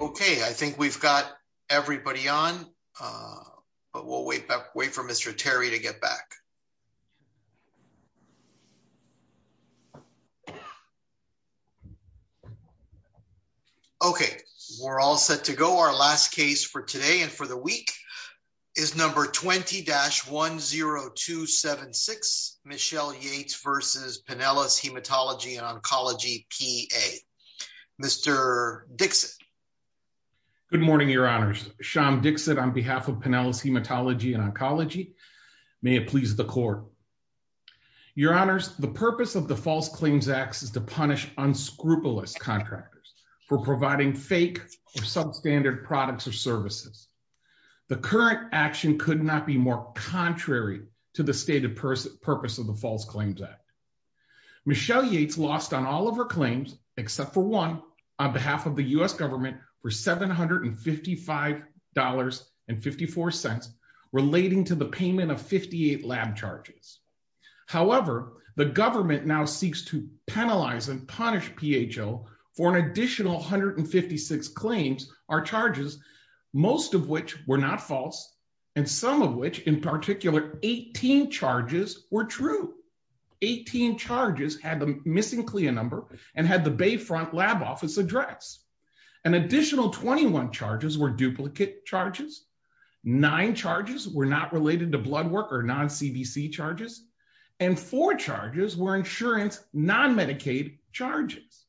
Okay, I think we've got everybody on, but we'll wait for Mr. Terry to get back. Okay, we're all set to go. Our last case for today and for the week is number 20-10276, Michelle Yates v. Pinellas Hematology & Oncology, P.A. Mr. Dixit. Good morning, Your Honors. Sean Dixit on behalf of Pinellas Hematology & Oncology. May it please the Court. Your Honors, the purpose of the False Claims Act is to punish unscrupulous contractors for providing fake or substandard products or services. The current action could not be more contrary to the stated purpose of the False Claims Act. Michelle Yates lost on all of her claims except for one on behalf of the U.S. government for $755.54 relating to the payment of 58 lab charges. However, the government now seeks to penalize and punish PHO for an additional 156 claims or charges, most of which were not false, and some of which, in particular, 18 charges were true. 18 charges had the missing CLIA number and had the Bayfront lab office address. An additional 21 charges were duplicate charges, nine charges were not related to blood work or non-CBC charges, and four charges were insurance non-Medicaid charges.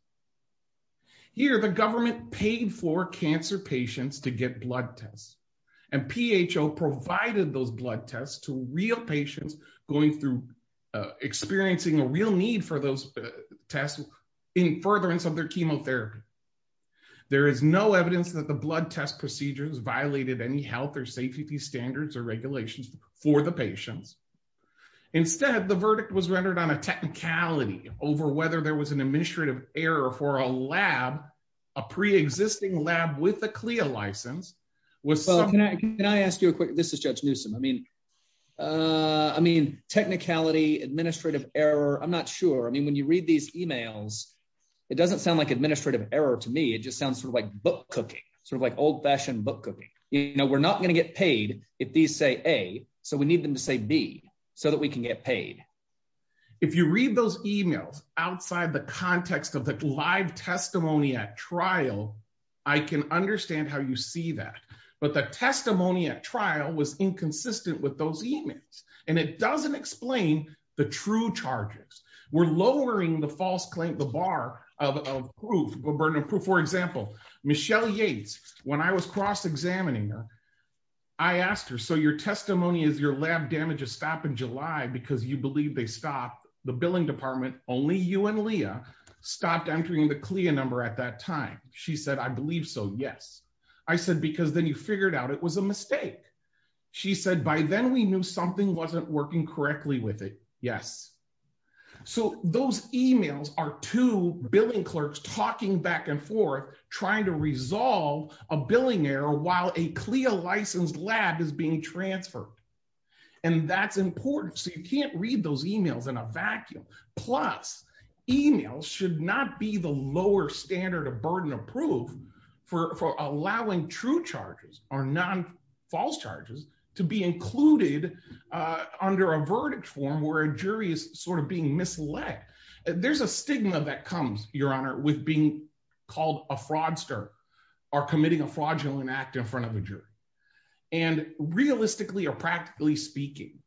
Here, the government paid for cancer patients to get blood tests, and PHO provided those blood tests to real patients experiencing a real need for those tests in furtherance of their chemotherapy. There is no evidence that the blood test procedures violated any health or safety standards or regulations for the patients. Instead, the verdict was rendered on a technicality over whether there was an administrative error for a lab, a pre-existing lab with a CLIA license. Can I ask you a quick question? This is Judge Newsom. I mean, technicality, administrative error, I'm not sure. I mean, when you read these emails, it doesn't sound like administrative error to me. It just sounds sort of like book cooking, sort of like old-fashioned book cooking. You know, we're not going to get paid if these say A, so we need them to say B so that we can get paid. If you read those emails outside the context of the live testimony at trial, I can understand how you see that, but the testimony at trial was inconsistent with those emails, and it doesn't explain the true charges. We're lowering the false claim, the bar of proof, the burden of proof. For example, Michelle Yates, when I was cross-examining her, I asked her, so your testimony is your lab damages stop in July because you believe they stopped the billing department, only you and Leah stopped entering the CLIA number at that time. She said, I believe so, yes. I said, because then you figured out it was a mistake. She said, by then we knew something wasn't working correctly with it. Yes. So those emails are two billing clerks talking back and forth, trying to resolve a billing error while a CLIA-licensed lab is being transferred. And that's important. So you can't read those emails in a vacuum. Plus, emails should not be the lower standard of burden of proof for allowing true charges or non-false charges to be included under a verdict form where a jury is sort of being misled. There's a stigma that comes, Your Honor, with being called a fraudster or committing a fraudulent act in front of a jury. And realistically or practically speaking,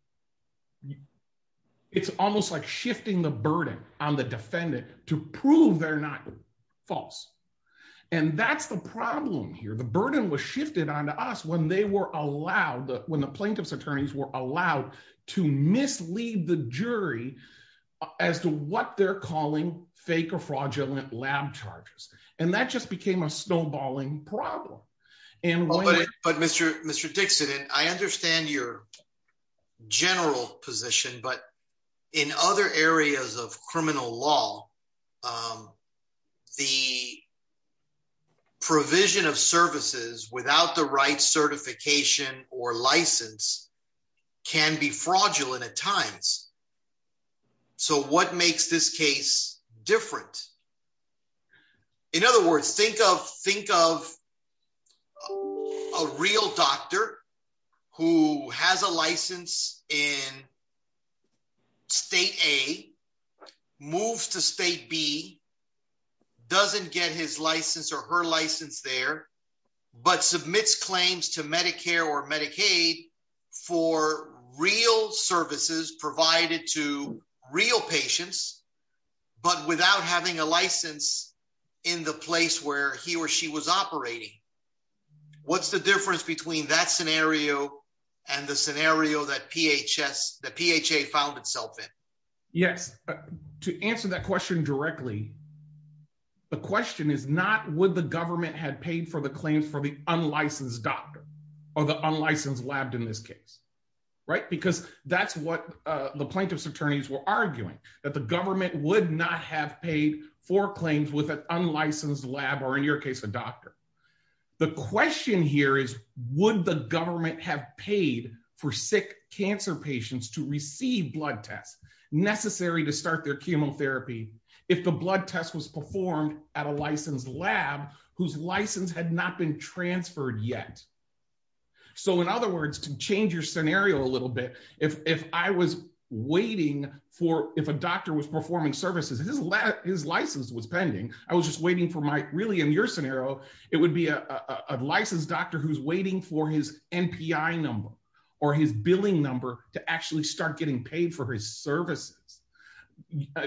it's almost like shifting the burden on the defendant to prove they're not false. And that's the problem here. The burden was shifted onto us when the plaintiff's attorneys were allowed to mislead the jury as to what they're calling fake or fraudulent lab charges. And that just became a snowballing problem. But Mr. Dixon, I understand your general position, but in other areas of criminal law, the provision of services without the right certification or license can be fraudulent at times. So what makes this case different? In other words, think of a real doctor who has a license in State A, moves to State B, doesn't get his license or her license there, but submits claims to Medicare or Medicaid for real services provided to real patients, but without having a license in the place where he or she was operating. What's the difference between that scenario and the scenario that PHA found itself in? Yes. To answer that question directly, the question is not would the government have paid for the claims for the unlicensed doctor or the unlicensed lab in this case. Because that's what the plaintiff's attorneys were arguing, that the government would not have paid for claims with an unlicensed lab or in your case, a doctor. The question here is, would the government have paid for sick cancer patients to receive blood tests necessary to start their chemotherapy if the blood test was performed at a licensed lab whose license had not been transferred yet? So in other words, to change your scenario a little bit, if I was waiting for, if a doctor was performing services, his license was pending, I was just waiting for my, really in your scenario, it would be a licensed doctor who's waiting for his NPI number or his billing number to actually start getting paid for his services.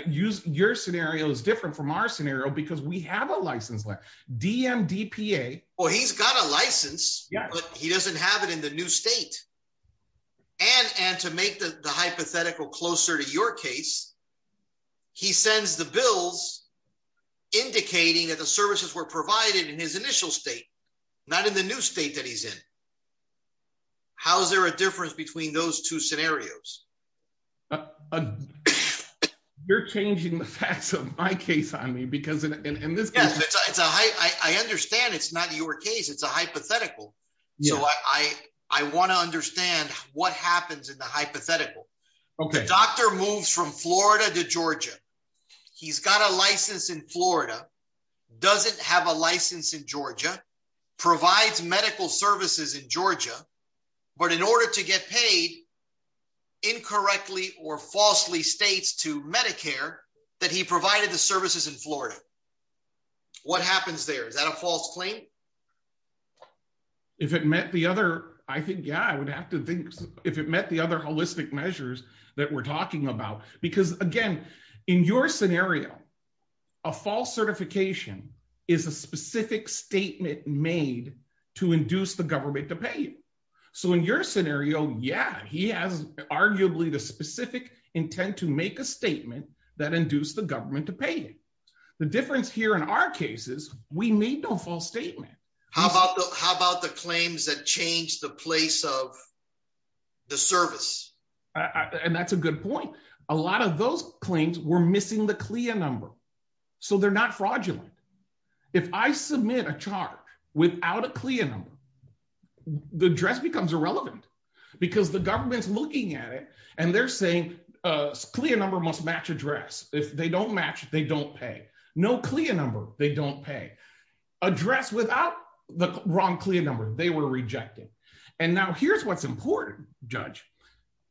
Your scenario is different from our scenario because we have a licensed lab, DMDPA. Well, he's got a license, but he doesn't have it in the new state. And to make the hypothetical closer to your case, he sends the bills indicating that the services were provided in his initial state, not in the new state that he's in. How is there a difference between those two scenarios? You're changing the facts of my case on me because in this case... I understand it's not your case. It's a hypothetical. So I want to understand what happens in the hypothetical. The doctor moves from Florida to Georgia. He's got a license in Florida, doesn't have a license in Georgia, provides medical services in Georgia, but in order to get paid, incorrectly or falsely states to Medicare that he provided the services in Florida. What happens there? Is that a false claim? If it met the other... I think, yeah, I would have to think if it met the other holistic measures that we're talking about. Because again, in your scenario, a false certification is a specific statement made to induce the government to pay you. So in your scenario, yeah, he has arguably the specific intent to make a statement that induce the government to pay you. The difference here in our cases, we need no false statement. How about the claims that change the place of the service? And that's a good point. A lot of those claims were missing the CLIA number. So they're not fraudulent. If I submit a charge without a CLIA number, the address becomes irrelevant. Because the government's looking at it and they're saying a CLIA number must match address. If they don't match, they don't pay. No CLIA number, they don't pay. Address without the wrong CLIA number, they were rejected. And now here's what's important, Judge.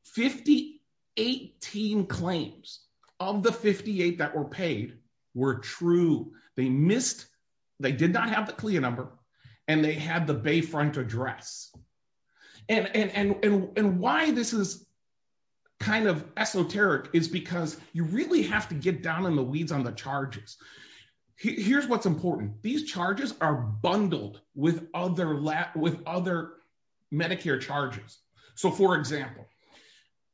Fifty-eight team claims of the 58 that were paid were true. They missed, they did not have the CLIA number, and they had the Bayfront address. And why this is kind of esoteric is because you really have to get down in the weeds on the charges. Here's what's important. These charges are bundled with other Medicare charges. So for example,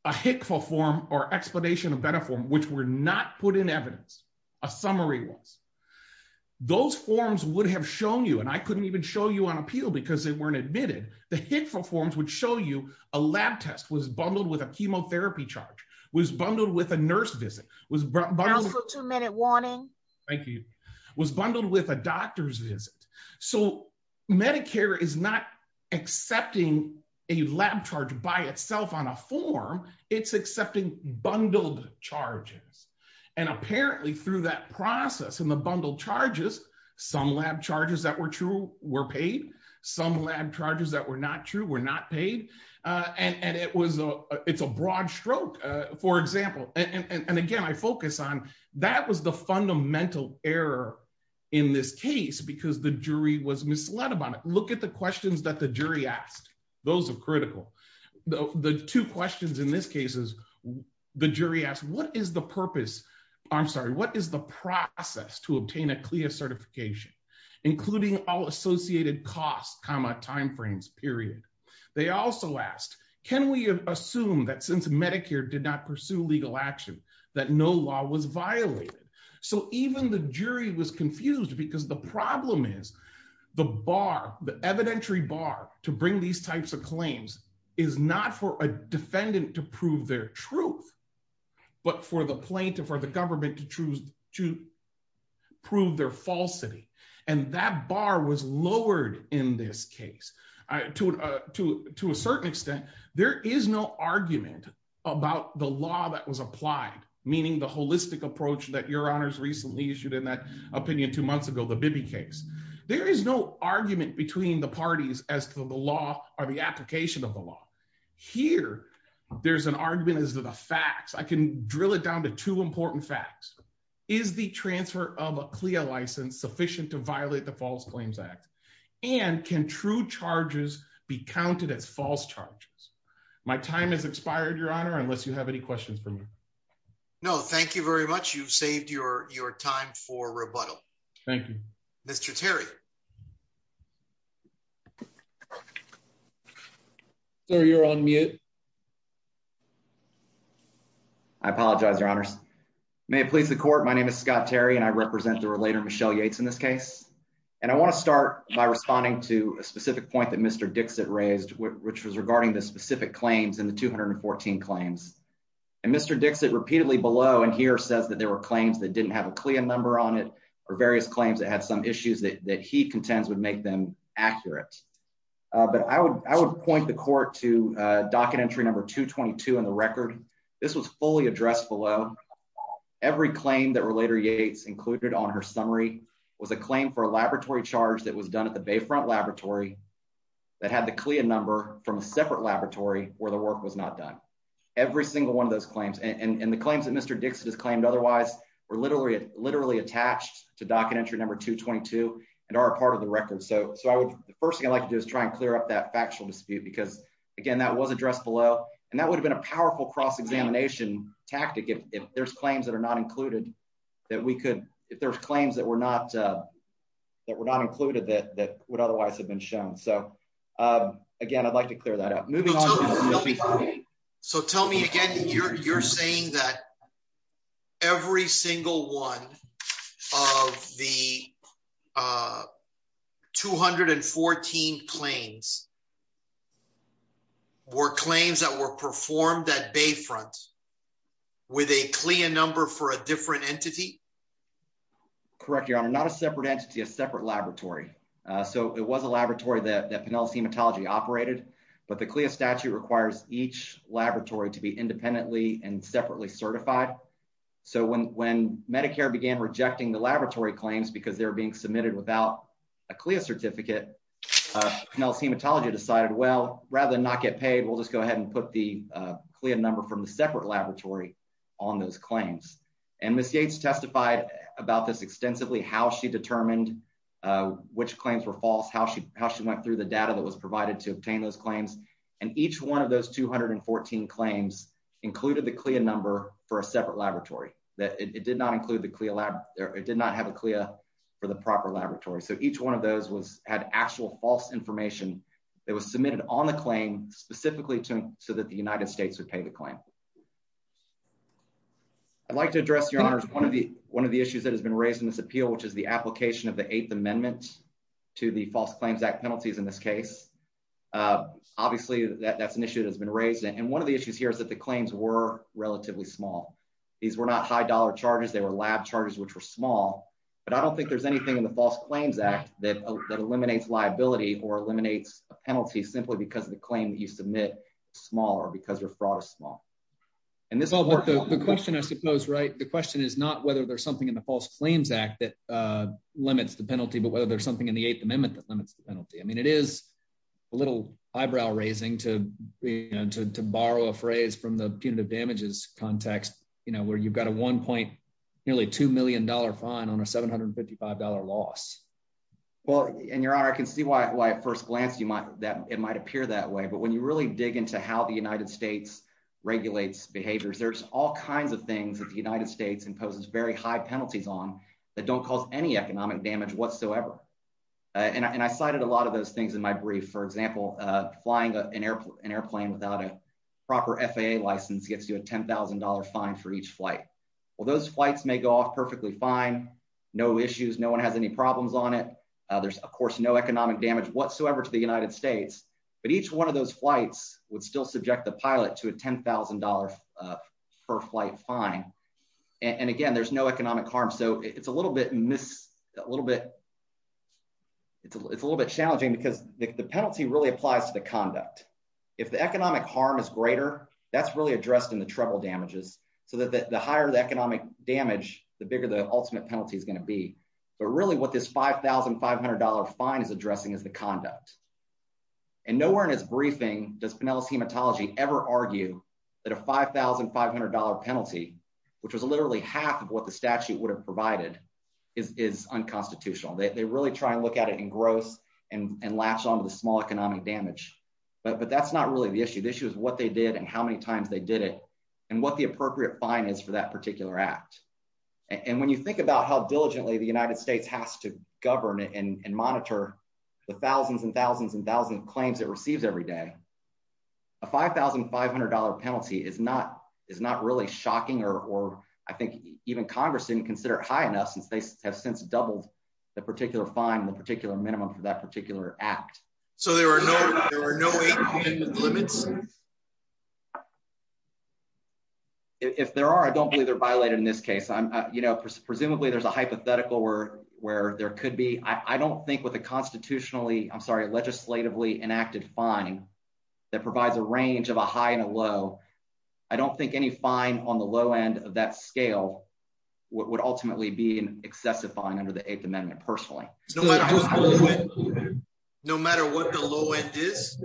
a HCFA form or explanation of VEDA form, which were not put in evidence, a summary was, those forms would have shown you, and I couldn't even show you on appeal because they weren't admitted, the HCFA forms would show you a lab test was bundled with a chemotherapy charge, was bundled with a nurse visit, was bundled with a doctor's visit. So Medicare is not accepting a lab charge by itself on a form, it's accepting bundled charges. And apparently through that process and the bundled charges, some lab charges that were true were paid, some lab charges that were not true were not paid. And it's a broad stroke, for example. And again, I focus on that was the fundamental error in this case because the jury was misled about it. Look at the questions that the jury asked. Those are critical. The two questions in this case is, the jury asked, what is the purpose, I'm sorry, what is the process to obtain a CLIA certification, including all associated costs, comma, timeframes, period. They also asked, can we assume that since Medicare did not pursue legal action, that no law was violated. So even the jury was confused because the problem is the bar, the evidentiary bar to bring these types of claims is not for a defendant to prove their truth, but for the plaintiff or the government to prove their falsity. And that bar was lowered in this case. To a certain extent, there is no argument about the law that was applied, meaning the holistic approach that Your Honors recently issued in that opinion two months ago, the Bibby case. There is no argument between the parties as to the law or the application of the law. Here, there's an argument as to the facts. I can drill it down to two important facts. Is the transfer of a CLIA license sufficient to violate the False Claims Act? And can true charges be counted as false charges? My time has expired, Your Honor, unless you have any questions for me. No, thank you very much. You've saved your time for rebuttal. Thank you. Mr. Terry. Sir, you're on mute. I apologize, Your Honors. May it please the court. My name is Scott Terry, and I represent the relator Michelle Yates in this case. And I want to start by responding to a specific point that Mr. Dixit raised, which was regarding the specific claims in the 214 claims. And Mr. Dixit repeatedly below and here says that there were claims that didn't have a CLIA number on it or various claims that had some issues that he contends would make them accurate. But I would I would point the court to docket entry number 222 on the record. This was fully addressed below. Every claim that Relator Yates included on her summary was a claim for a laboratory charge that was done at the Bayfront Laboratory that had the CLIA number from a separate laboratory where the work was not done. Every single one of those claims and the claims that Mr. Dixit has claimed otherwise were literally literally attached to docket entry number 222 and are part of the record. So, so I would first thing I'd like to do is try and clear up that factual dispute because, again, that was addressed below. And that would have been a powerful cross examination tactic if there's claims that are not included, that we could, if there's claims that were not that were not included that that would otherwise have been shown. So, again, I'd like to clear that up. So tell me again, you're saying that every single one of the 214 claims were claims that were performed at Bayfront with a CLIA number for a different entity. Correct. You're not a separate entity, a separate laboratory. So it was a laboratory that Penelope's Hematology operated, but the CLIA statute requires each laboratory to be independently and separately certified. So when when Medicare began rejecting the laboratory claims because they're being submitted without a CLIA certificate, Penelope's Hematology decided, well, rather than not get paid, we'll just go ahead and put the CLIA number from the separate laboratory on those claims. And Ms. Yates testified about this extensively, how she determined which claims were false, how she how she went through the data that was provided to obtain those claims. And each one of those 214 claims included the CLIA number for a separate laboratory that it did not include the CLIA lab. It did not have a CLIA for the proper laboratory. So each one of those was had actual false information that was submitted on the claim specifically to so that the United States would pay the claim. I'd like to address your honors. One of the one of the issues that has been raised in this appeal, which is the application of the Eighth Amendment to the False Claims Act penalties in this case. Obviously, that's an issue that has been raised. And one of the issues here is that the claims were relatively small. These were not high dollar charges. They were lab charges, which were small. But I don't think there's anything in the False Claims Act that eliminates liability or eliminates a penalty simply because of the claim that you submit smaller because your fraud is small. And this is the question, I suppose. Right. The question is not whether there's something in the False Claims Act that limits the penalty, but whether there's something in the Eighth Amendment that limits the penalty. I mean, it is a little eyebrow raising to to borrow a phrase from the punitive damages context, you know, where you've got a one point nearly $2 million fine on a $755 loss. Well, and your honor, I can see why at first glance you might that it might appear that way. But when you really dig into how the United States regulates behaviors, there's all kinds of things that the United States imposes very high penalties on that don't cause any economic damage whatsoever. And I cited a lot of those things in my brief, for example, flying an airplane without a proper FAA license gets you a $10,000 fine for each flight. Well, those flights may go off perfectly fine. No issues. No one has any problems on it. There's, of course, no economic damage whatsoever to the United States, but each one of those flights would still subject the pilot to a $10,000 per flight fine. And again, there's no economic harm so it's a little bit miss a little bit. It's a little bit challenging because the penalty really applies to the conduct. If the economic harm is greater, that's really addressed in the trouble damages, so that the higher the economic damage, the bigger the ultimate penalty is going to be. But really what this $5,500 fine is addressing is the conduct. And nowhere in his briefing does Penelas Hematology ever argue that a $5,500 penalty, which was literally half of what the statute would have provided is unconstitutional. They really try and look at it in gross and latch on to the small economic damage, but that's not really the issue. The issue is what they did and how many times they did it, and what the appropriate fine is for that particular act. And when you think about how diligently the United States has to govern it and monitor the thousands and thousands and thousands of claims that receives every day. A $5,500 penalty is not is not really shocking or I think even Congress didn't consider it high enough since they have since doubled the particular fine the particular minimum for that particular act. So there were no limits. If there are I don't believe they're violated in this case I'm, you know, presumably there's a hypothetical where, where there could be, I don't think with the constitutionally, I'm sorry legislatively enacted fine that provides a range of a high and a low. I don't think any fine on the low end of that scale would ultimately be an excessive fine under the Eighth Amendment personally. No matter what the low end is.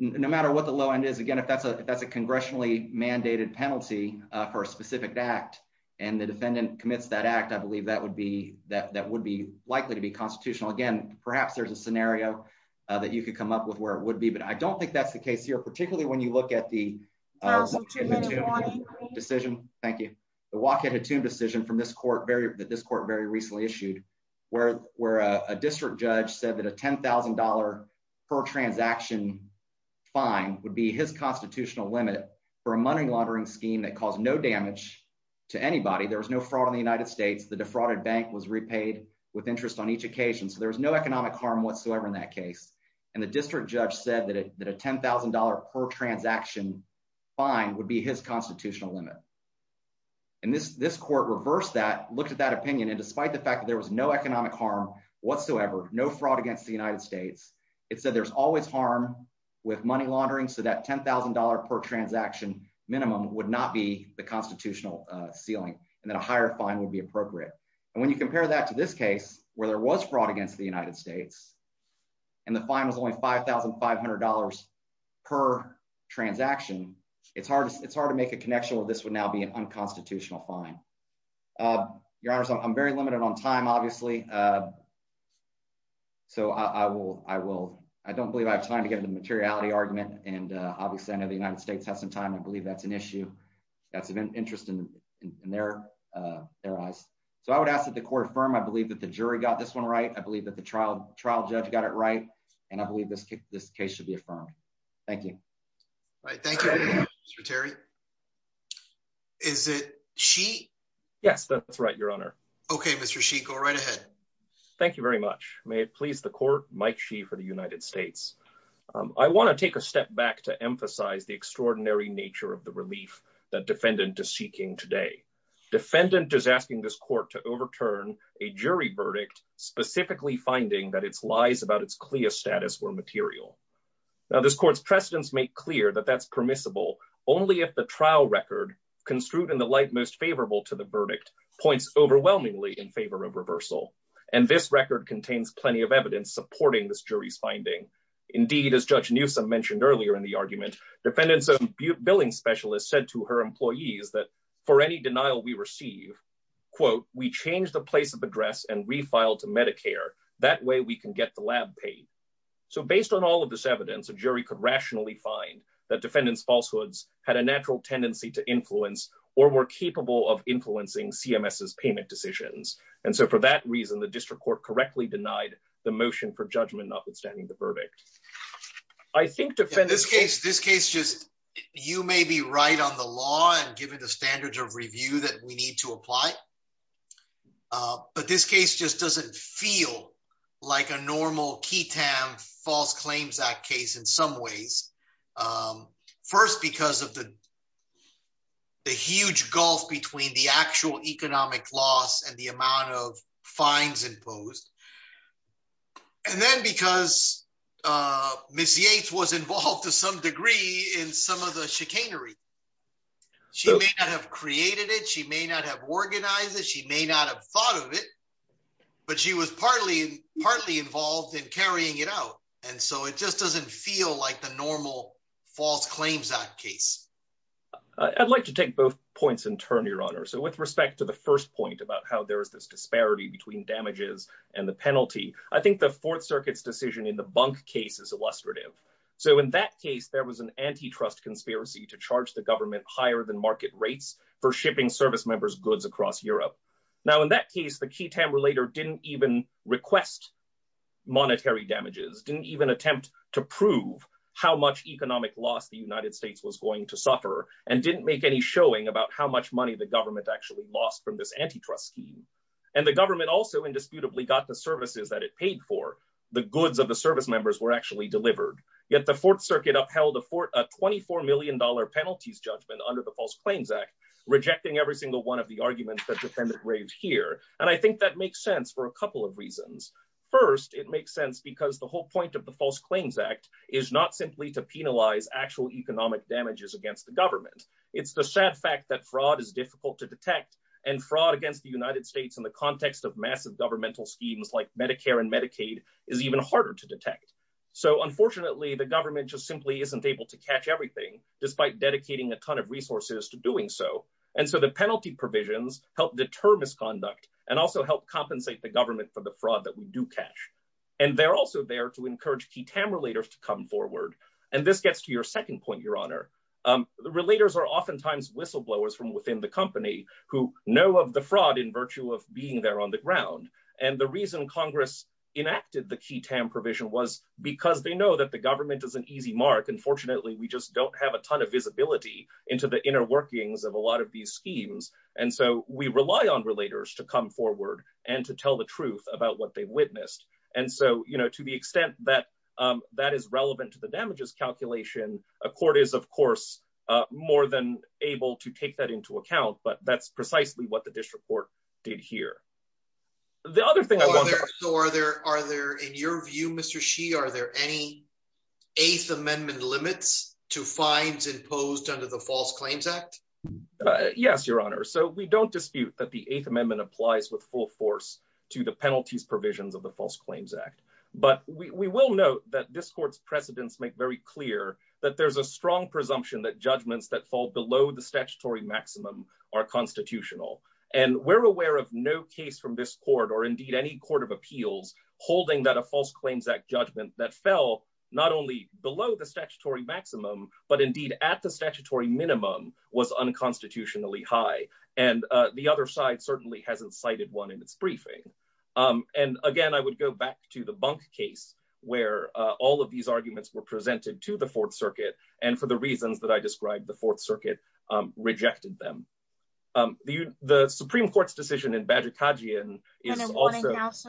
No matter what the low end is again if that's a that's a congressionally mandated penalty for a specific act, and the defendant commits that act I believe that would be that that would be likely to be constitutional again, perhaps there's a scenario that you could come up with where it would be but I don't think that's the case here particularly when you look at the decision. Thank you. The walk in a tomb decision from this court very that this court very recently issued, where, where a district judge said that a $10,000 per transaction fine would be his constitutional limit for a money laundering scheme that caused no damage to anybody there was no fraud in the United States the defrauded bank was repaid with interest on each occasion so there was no economic harm whatsoever in that case, and the district judge said that a $10,000 per transaction fine would be his constitutional limit. And this this court reverse that look at that opinion and despite the fact that there was no economic harm whatsoever, no fraud against the United States, it said there's always harm with money laundering so that $10,000 per transaction minimum would not be the constitutional ceiling, and then a higher fine would be appropriate. And when you compare that to this case, where there was fraud against the United States. And the final is only $5,500 per transaction, it's hard, it's hard to make a connection with this would now be an unconstitutional fine. Your Honor, so I'm very limited on time, obviously. So I will, I will. I don't believe I have time to get into materiality argument, and obviously I know the United States has some time I believe that's an issue. That's an interest in their, their eyes. So I would ask that the court firm I believe that the jury got this one right I believe that the trial trial judge got it right. And I believe this kick this case should be affirmed. Thank you. Thank you, Terry. Is it she. Yes, that's right, Your Honor. Okay, Mr she go right ahead. Thank you very much. May it please the court, Mike she for the United States. I want to take a step back to emphasize the extraordinary nature of the relief that defendant to seeking today. Defendant is asking this court to overturn a jury verdict, specifically finding that it's lies about it's clear status were material. Now this court's precedents make clear that that's permissible, only if the trial record construed in the light most favorable to the verdict points overwhelmingly in favor of reversal, and this record contains plenty of evidence supporting this jury's finding. Indeed, as Judge Newsome mentioned earlier in the argument defendants of billing specialist said to her employees that for any denial we receive, quote, we change the place of address and refile to Medicare, that way we can get the lab paid. So based on all of this evidence a jury could rationally find that defendants falsehoods had a natural tendency to influence or were capable of influencing CMS is payment decisions. And so for that reason the district court correctly denied the motion for judgment notwithstanding the verdict. I think defendants case this case just you may be right on the law and given the standards of review that we need to apply. But this case just doesn't feel like a normal key Tam false claims that case in some ways. First, because of the, the huge gulf between the actual economic loss and the amount of fines imposed. And then because Miss Yates was involved to some degree in some of the chicanery. She may not have created it she may not have organized that she may not have thought of it, but she was partly partly involved in carrying it out. And so it just doesn't feel like the normal false claims that case. I'd like to take both points in turn your honor so with respect to the first point about how there is this disparity between damages, and the penalty. I think the Fourth Circuit's decision in the bunk cases illustrative. So in that case there was an antitrust conspiracy to charge the government higher than market rates for shipping service members goods across Europe. Now in that case the key tamber later didn't even request monetary damages didn't even attempt to prove how much economic loss the United States was going to suffer, and didn't make any showing about how much money the government actually lost from this antitrust scheme, and the government also indisputably got the services that it paid for the goods of the service members were actually delivered. Yet the Fourth Circuit upheld afford a $24 million penalties judgment under the False Claims Act, rejecting every single one of the arguments that defendant raised here, and I think that makes sense for a couple of reasons. First, it makes sense because the whole point of the False Claims Act is not simply to penalize actual economic damages against the government. It's the sad fact that fraud is difficult to detect and fraud against the United States in the context of massive governmental schemes like Medicare and Medicaid is even harder to detect. So unfortunately the government just simply isn't able to catch everything, despite dedicating a ton of resources to doing so. And so the penalty provisions, help deter misconduct, and also help compensate the government for the fraud that we do catch. And they're also there to encourage key tamber leaders to come forward. And this gets to your second point, Your Honor, the relators are oftentimes whistleblowers from within the company who know of the fraud in virtue of being there on the ground. And the reason Congress enacted the key tamper vision was because they know that the government is an easy mark and fortunately we just don't have a ton of visibility into the inner workings of a lot of these schemes. And so we rely on relators to come forward and to tell the truth about what they witnessed. And so, you know, to the extent that that is relevant to the damages calculation, a court is of course more than able to take that into account, but that's precisely what the district court did here. The other thing I want to... So are there, in your view, Mr. Shih, are there any Eighth Amendment limits to fines imposed under the False Claims Act? Yes, Your Honor. So we don't dispute that the Eighth Amendment applies with full force to the penalties provisions of the False Claims Act. But we will note that this court's precedents make very clear that there's a strong presumption that judgments that fall below the statutory maximum are constitutional. And we're aware of no case from this court or indeed any court of appeals holding that a False Claims Act judgment that fell not only below the statutory maximum, but indeed at the statutory minimum was unconstitutionally high. And the other side certainly hasn't cited one in its briefing. And again, I would go back to the bunk case where all of these arguments were presented to the Fourth Circuit and for the reasons that I described, the Fourth Circuit rejected them. The Supreme Court's decision in Badgerkadzian is also... And in Waddinghouse?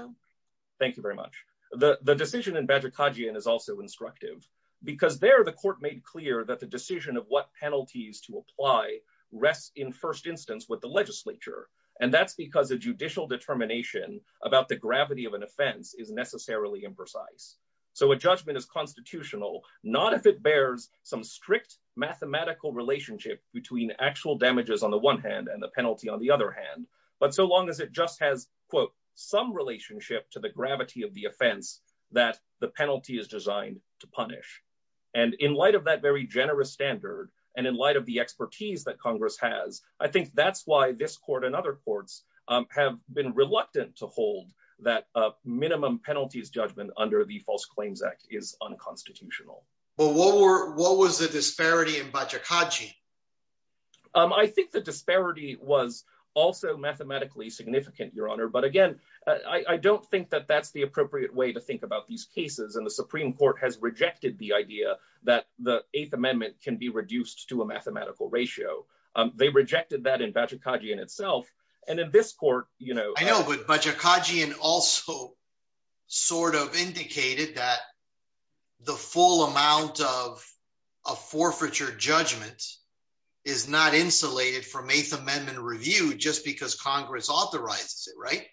Thank you very much. The decision in Badgerkadzian is also instructive because there the court made clear that the decision of what penalties to apply rests in first instance with the legislature. And that's because a judicial determination about the gravity of an offense is necessarily imprecise. So a judgment is constitutional, not if it bears some strict mathematical relationship between actual damages on the one hand and the penalty on the other hand. But so long as it just has, quote, some relationship to the gravity of the offense that the penalty is designed to punish. And in light of that very generous standard, and in light of the expertise that Congress has, I think that's why this court and other courts have been reluctant to hold that minimum penalties judgment under the False Claims Act is unconstitutional. But what was the disparity in Badgerkadzian? I think the disparity was also mathematically significant, Your Honor. But again, I don't think that that's the appropriate way to think about these cases. And the Supreme Court has rejected the idea that the Eighth Amendment can be reduced to a mathematical ratio. They rejected that in Badgerkadzian itself. I know, but Badgerkadzian also sort of indicated that the full amount of a forfeiture judgment is not insulated from Eighth Amendment review just because Congress authorizes it, right?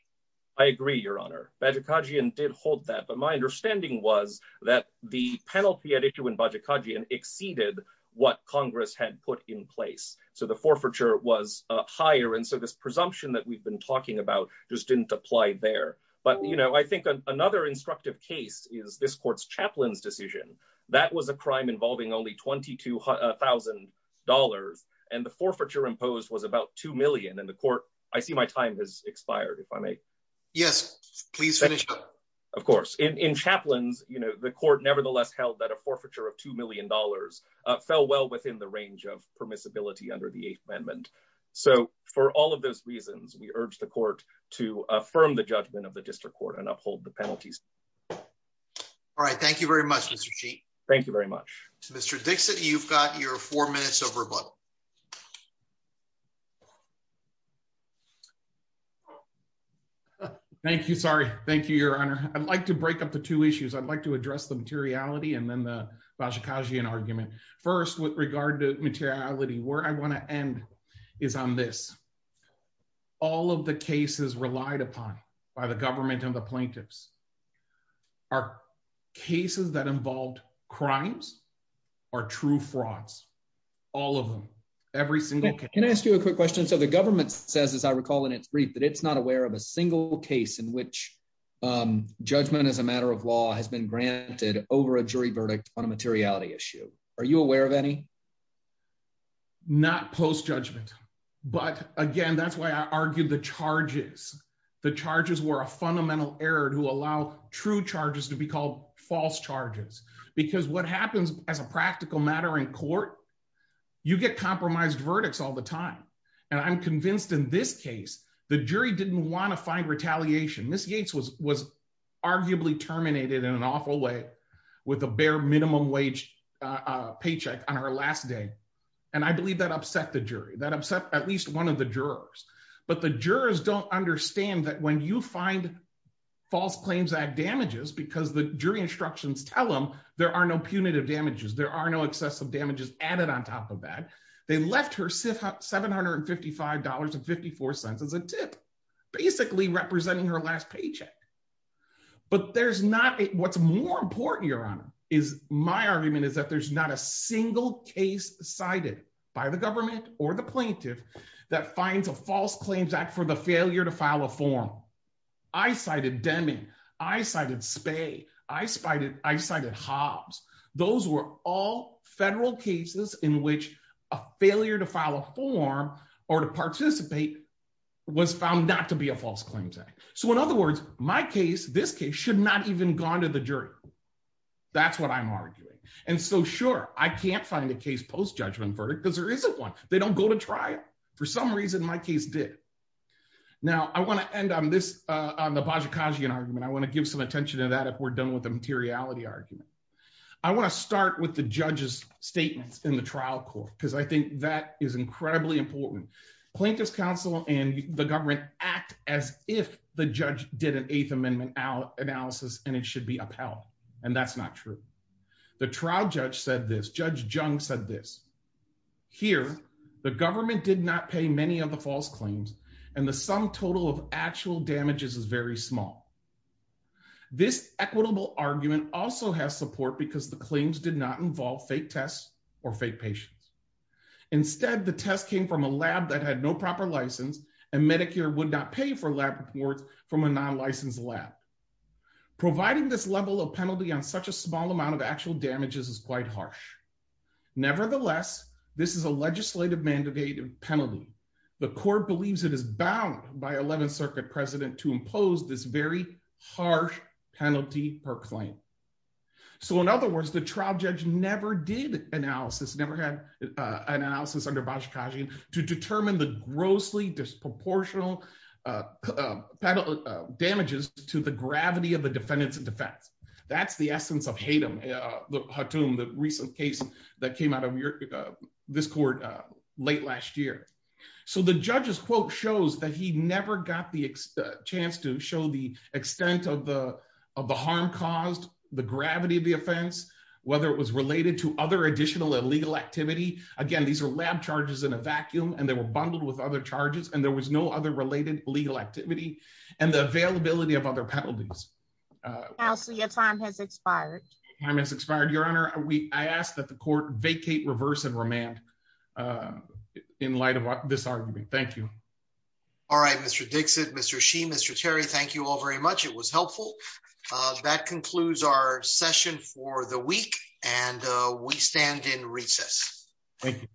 I agree, Your Honor. Badgerkadzian did hold that. But my understanding was that the penalty at issue in Badgerkadzian exceeded what Congress had put in place. So the forfeiture was higher. And so this presumption that we've been talking about just didn't apply there. But I think another instructive case is this court's chaplain's decision. That was a crime involving only $22,000, and the forfeiture imposed was about $2 million. And the court—I see my time has expired, if I may. Yes, please finish up. Of course. In chaplains, the court nevertheless held that a forfeiture of $2 million fell well within the range of permissibility under the Eighth Amendment. So for all of those reasons, we urge the court to affirm the judgment of the district court and uphold the penalties. All right. Thank you very much, Mr. Cheat. Thank you very much. Mr. Dixit, you've got your four minutes of rebuttal. Thank you. Thank you. Sorry. Thank you, Your Honor. I'd like to break up the two issues. I'd like to address the materiality and then the Badgerkadzian argument. First, with regard to materiality, where I want to end is on this. All of the cases relied upon by the government and the plaintiffs are cases that involved crimes or true frauds, all of them, every single case. Can I ask you a quick question? So the government says, as I recall in its brief, that it's not aware of a single case in which judgment as a matter of law has been granted over a jury verdict on a materiality issue. Are you aware of any? Not post judgment. But again, that's why I argued the charges. The charges were a fundamental error to allow true charges to be called false charges, because what happens as a practical matter in court, you get compromised verdicts all the time. And I'm convinced in this case, the jury didn't want to find retaliation. Miss Yates was arguably terminated in an awful way with a bare minimum wage paycheck on her last day. And I believe that upset the jury, that upset at least one of the jurors. But the jurors don't understand that when you find false claims that damages because the jury instructions tell them there are no punitive damages, there are no excessive damages added on top of that. They left her $755.54 as a tip, basically representing her last paycheck. But there's not what's more important, Your Honor, is my argument is that there's not a single case cited by the government or the plaintiff that finds a false claims act for the failure to file a form. I cited Demi, I cited Spey, I cited Hobbs. Those were all federal cases in which a failure to file a form or to participate was found not to be a false claims act. So in other words, my case, this case should not even gone to the jury. That's what I'm arguing. And so sure, I can't find a case post judgment verdict because there isn't one. They don't go to trial. For some reason, my case did. Now I want to end on this, on the Bajikashian argument, I want to give some attention to that if we're done with the materiality argument. I want to start with the judge's statements in the trial court because I think that is incredibly important. Plaintiff's counsel and the government act as if the judge did an Eighth Amendment analysis and it should be upheld. And that's not true. The trial judge said this, Judge Jung said this, here, the government did not pay many of the false claims and the sum total of actual damages is very small. This equitable argument also has support because the claims did not involve fake tests or fake patients. Instead, the test came from a lab that had no proper license and Medicare would not pay for lab reports from a non-licensed lab. Providing this level of penalty on such a small amount of actual damages is quite harsh. Nevertheless, this is a legislative mandated penalty. The court believes it is bound by 11th Circuit precedent to impose this very harsh penalty per claim. So in other words, the trial judge never did analysis, never had an analysis under Bajikashian to determine the grossly disproportional damages to the gravity of the defendants in defense. That's the essence of Hatem, the recent case that came out of this court late last year. So the judge's quote shows that he never got the chance to show the extent of the harm caused, the gravity of the offense, whether it was related to other additional illegal activity. Again, these are lab charges in a vacuum and they were bundled with other charges and there was no other related legal activity and the availability of other penalties. Counsel, your time has expired. Your Honor, I ask that the court vacate, reverse, and remand in light of this argument. Thank you. All right, Mr. Dixit, Mr. Shih, Mr. Terry, thank you all very much. It was helpful. That concludes our session for the week and we stand in recess. Thank you.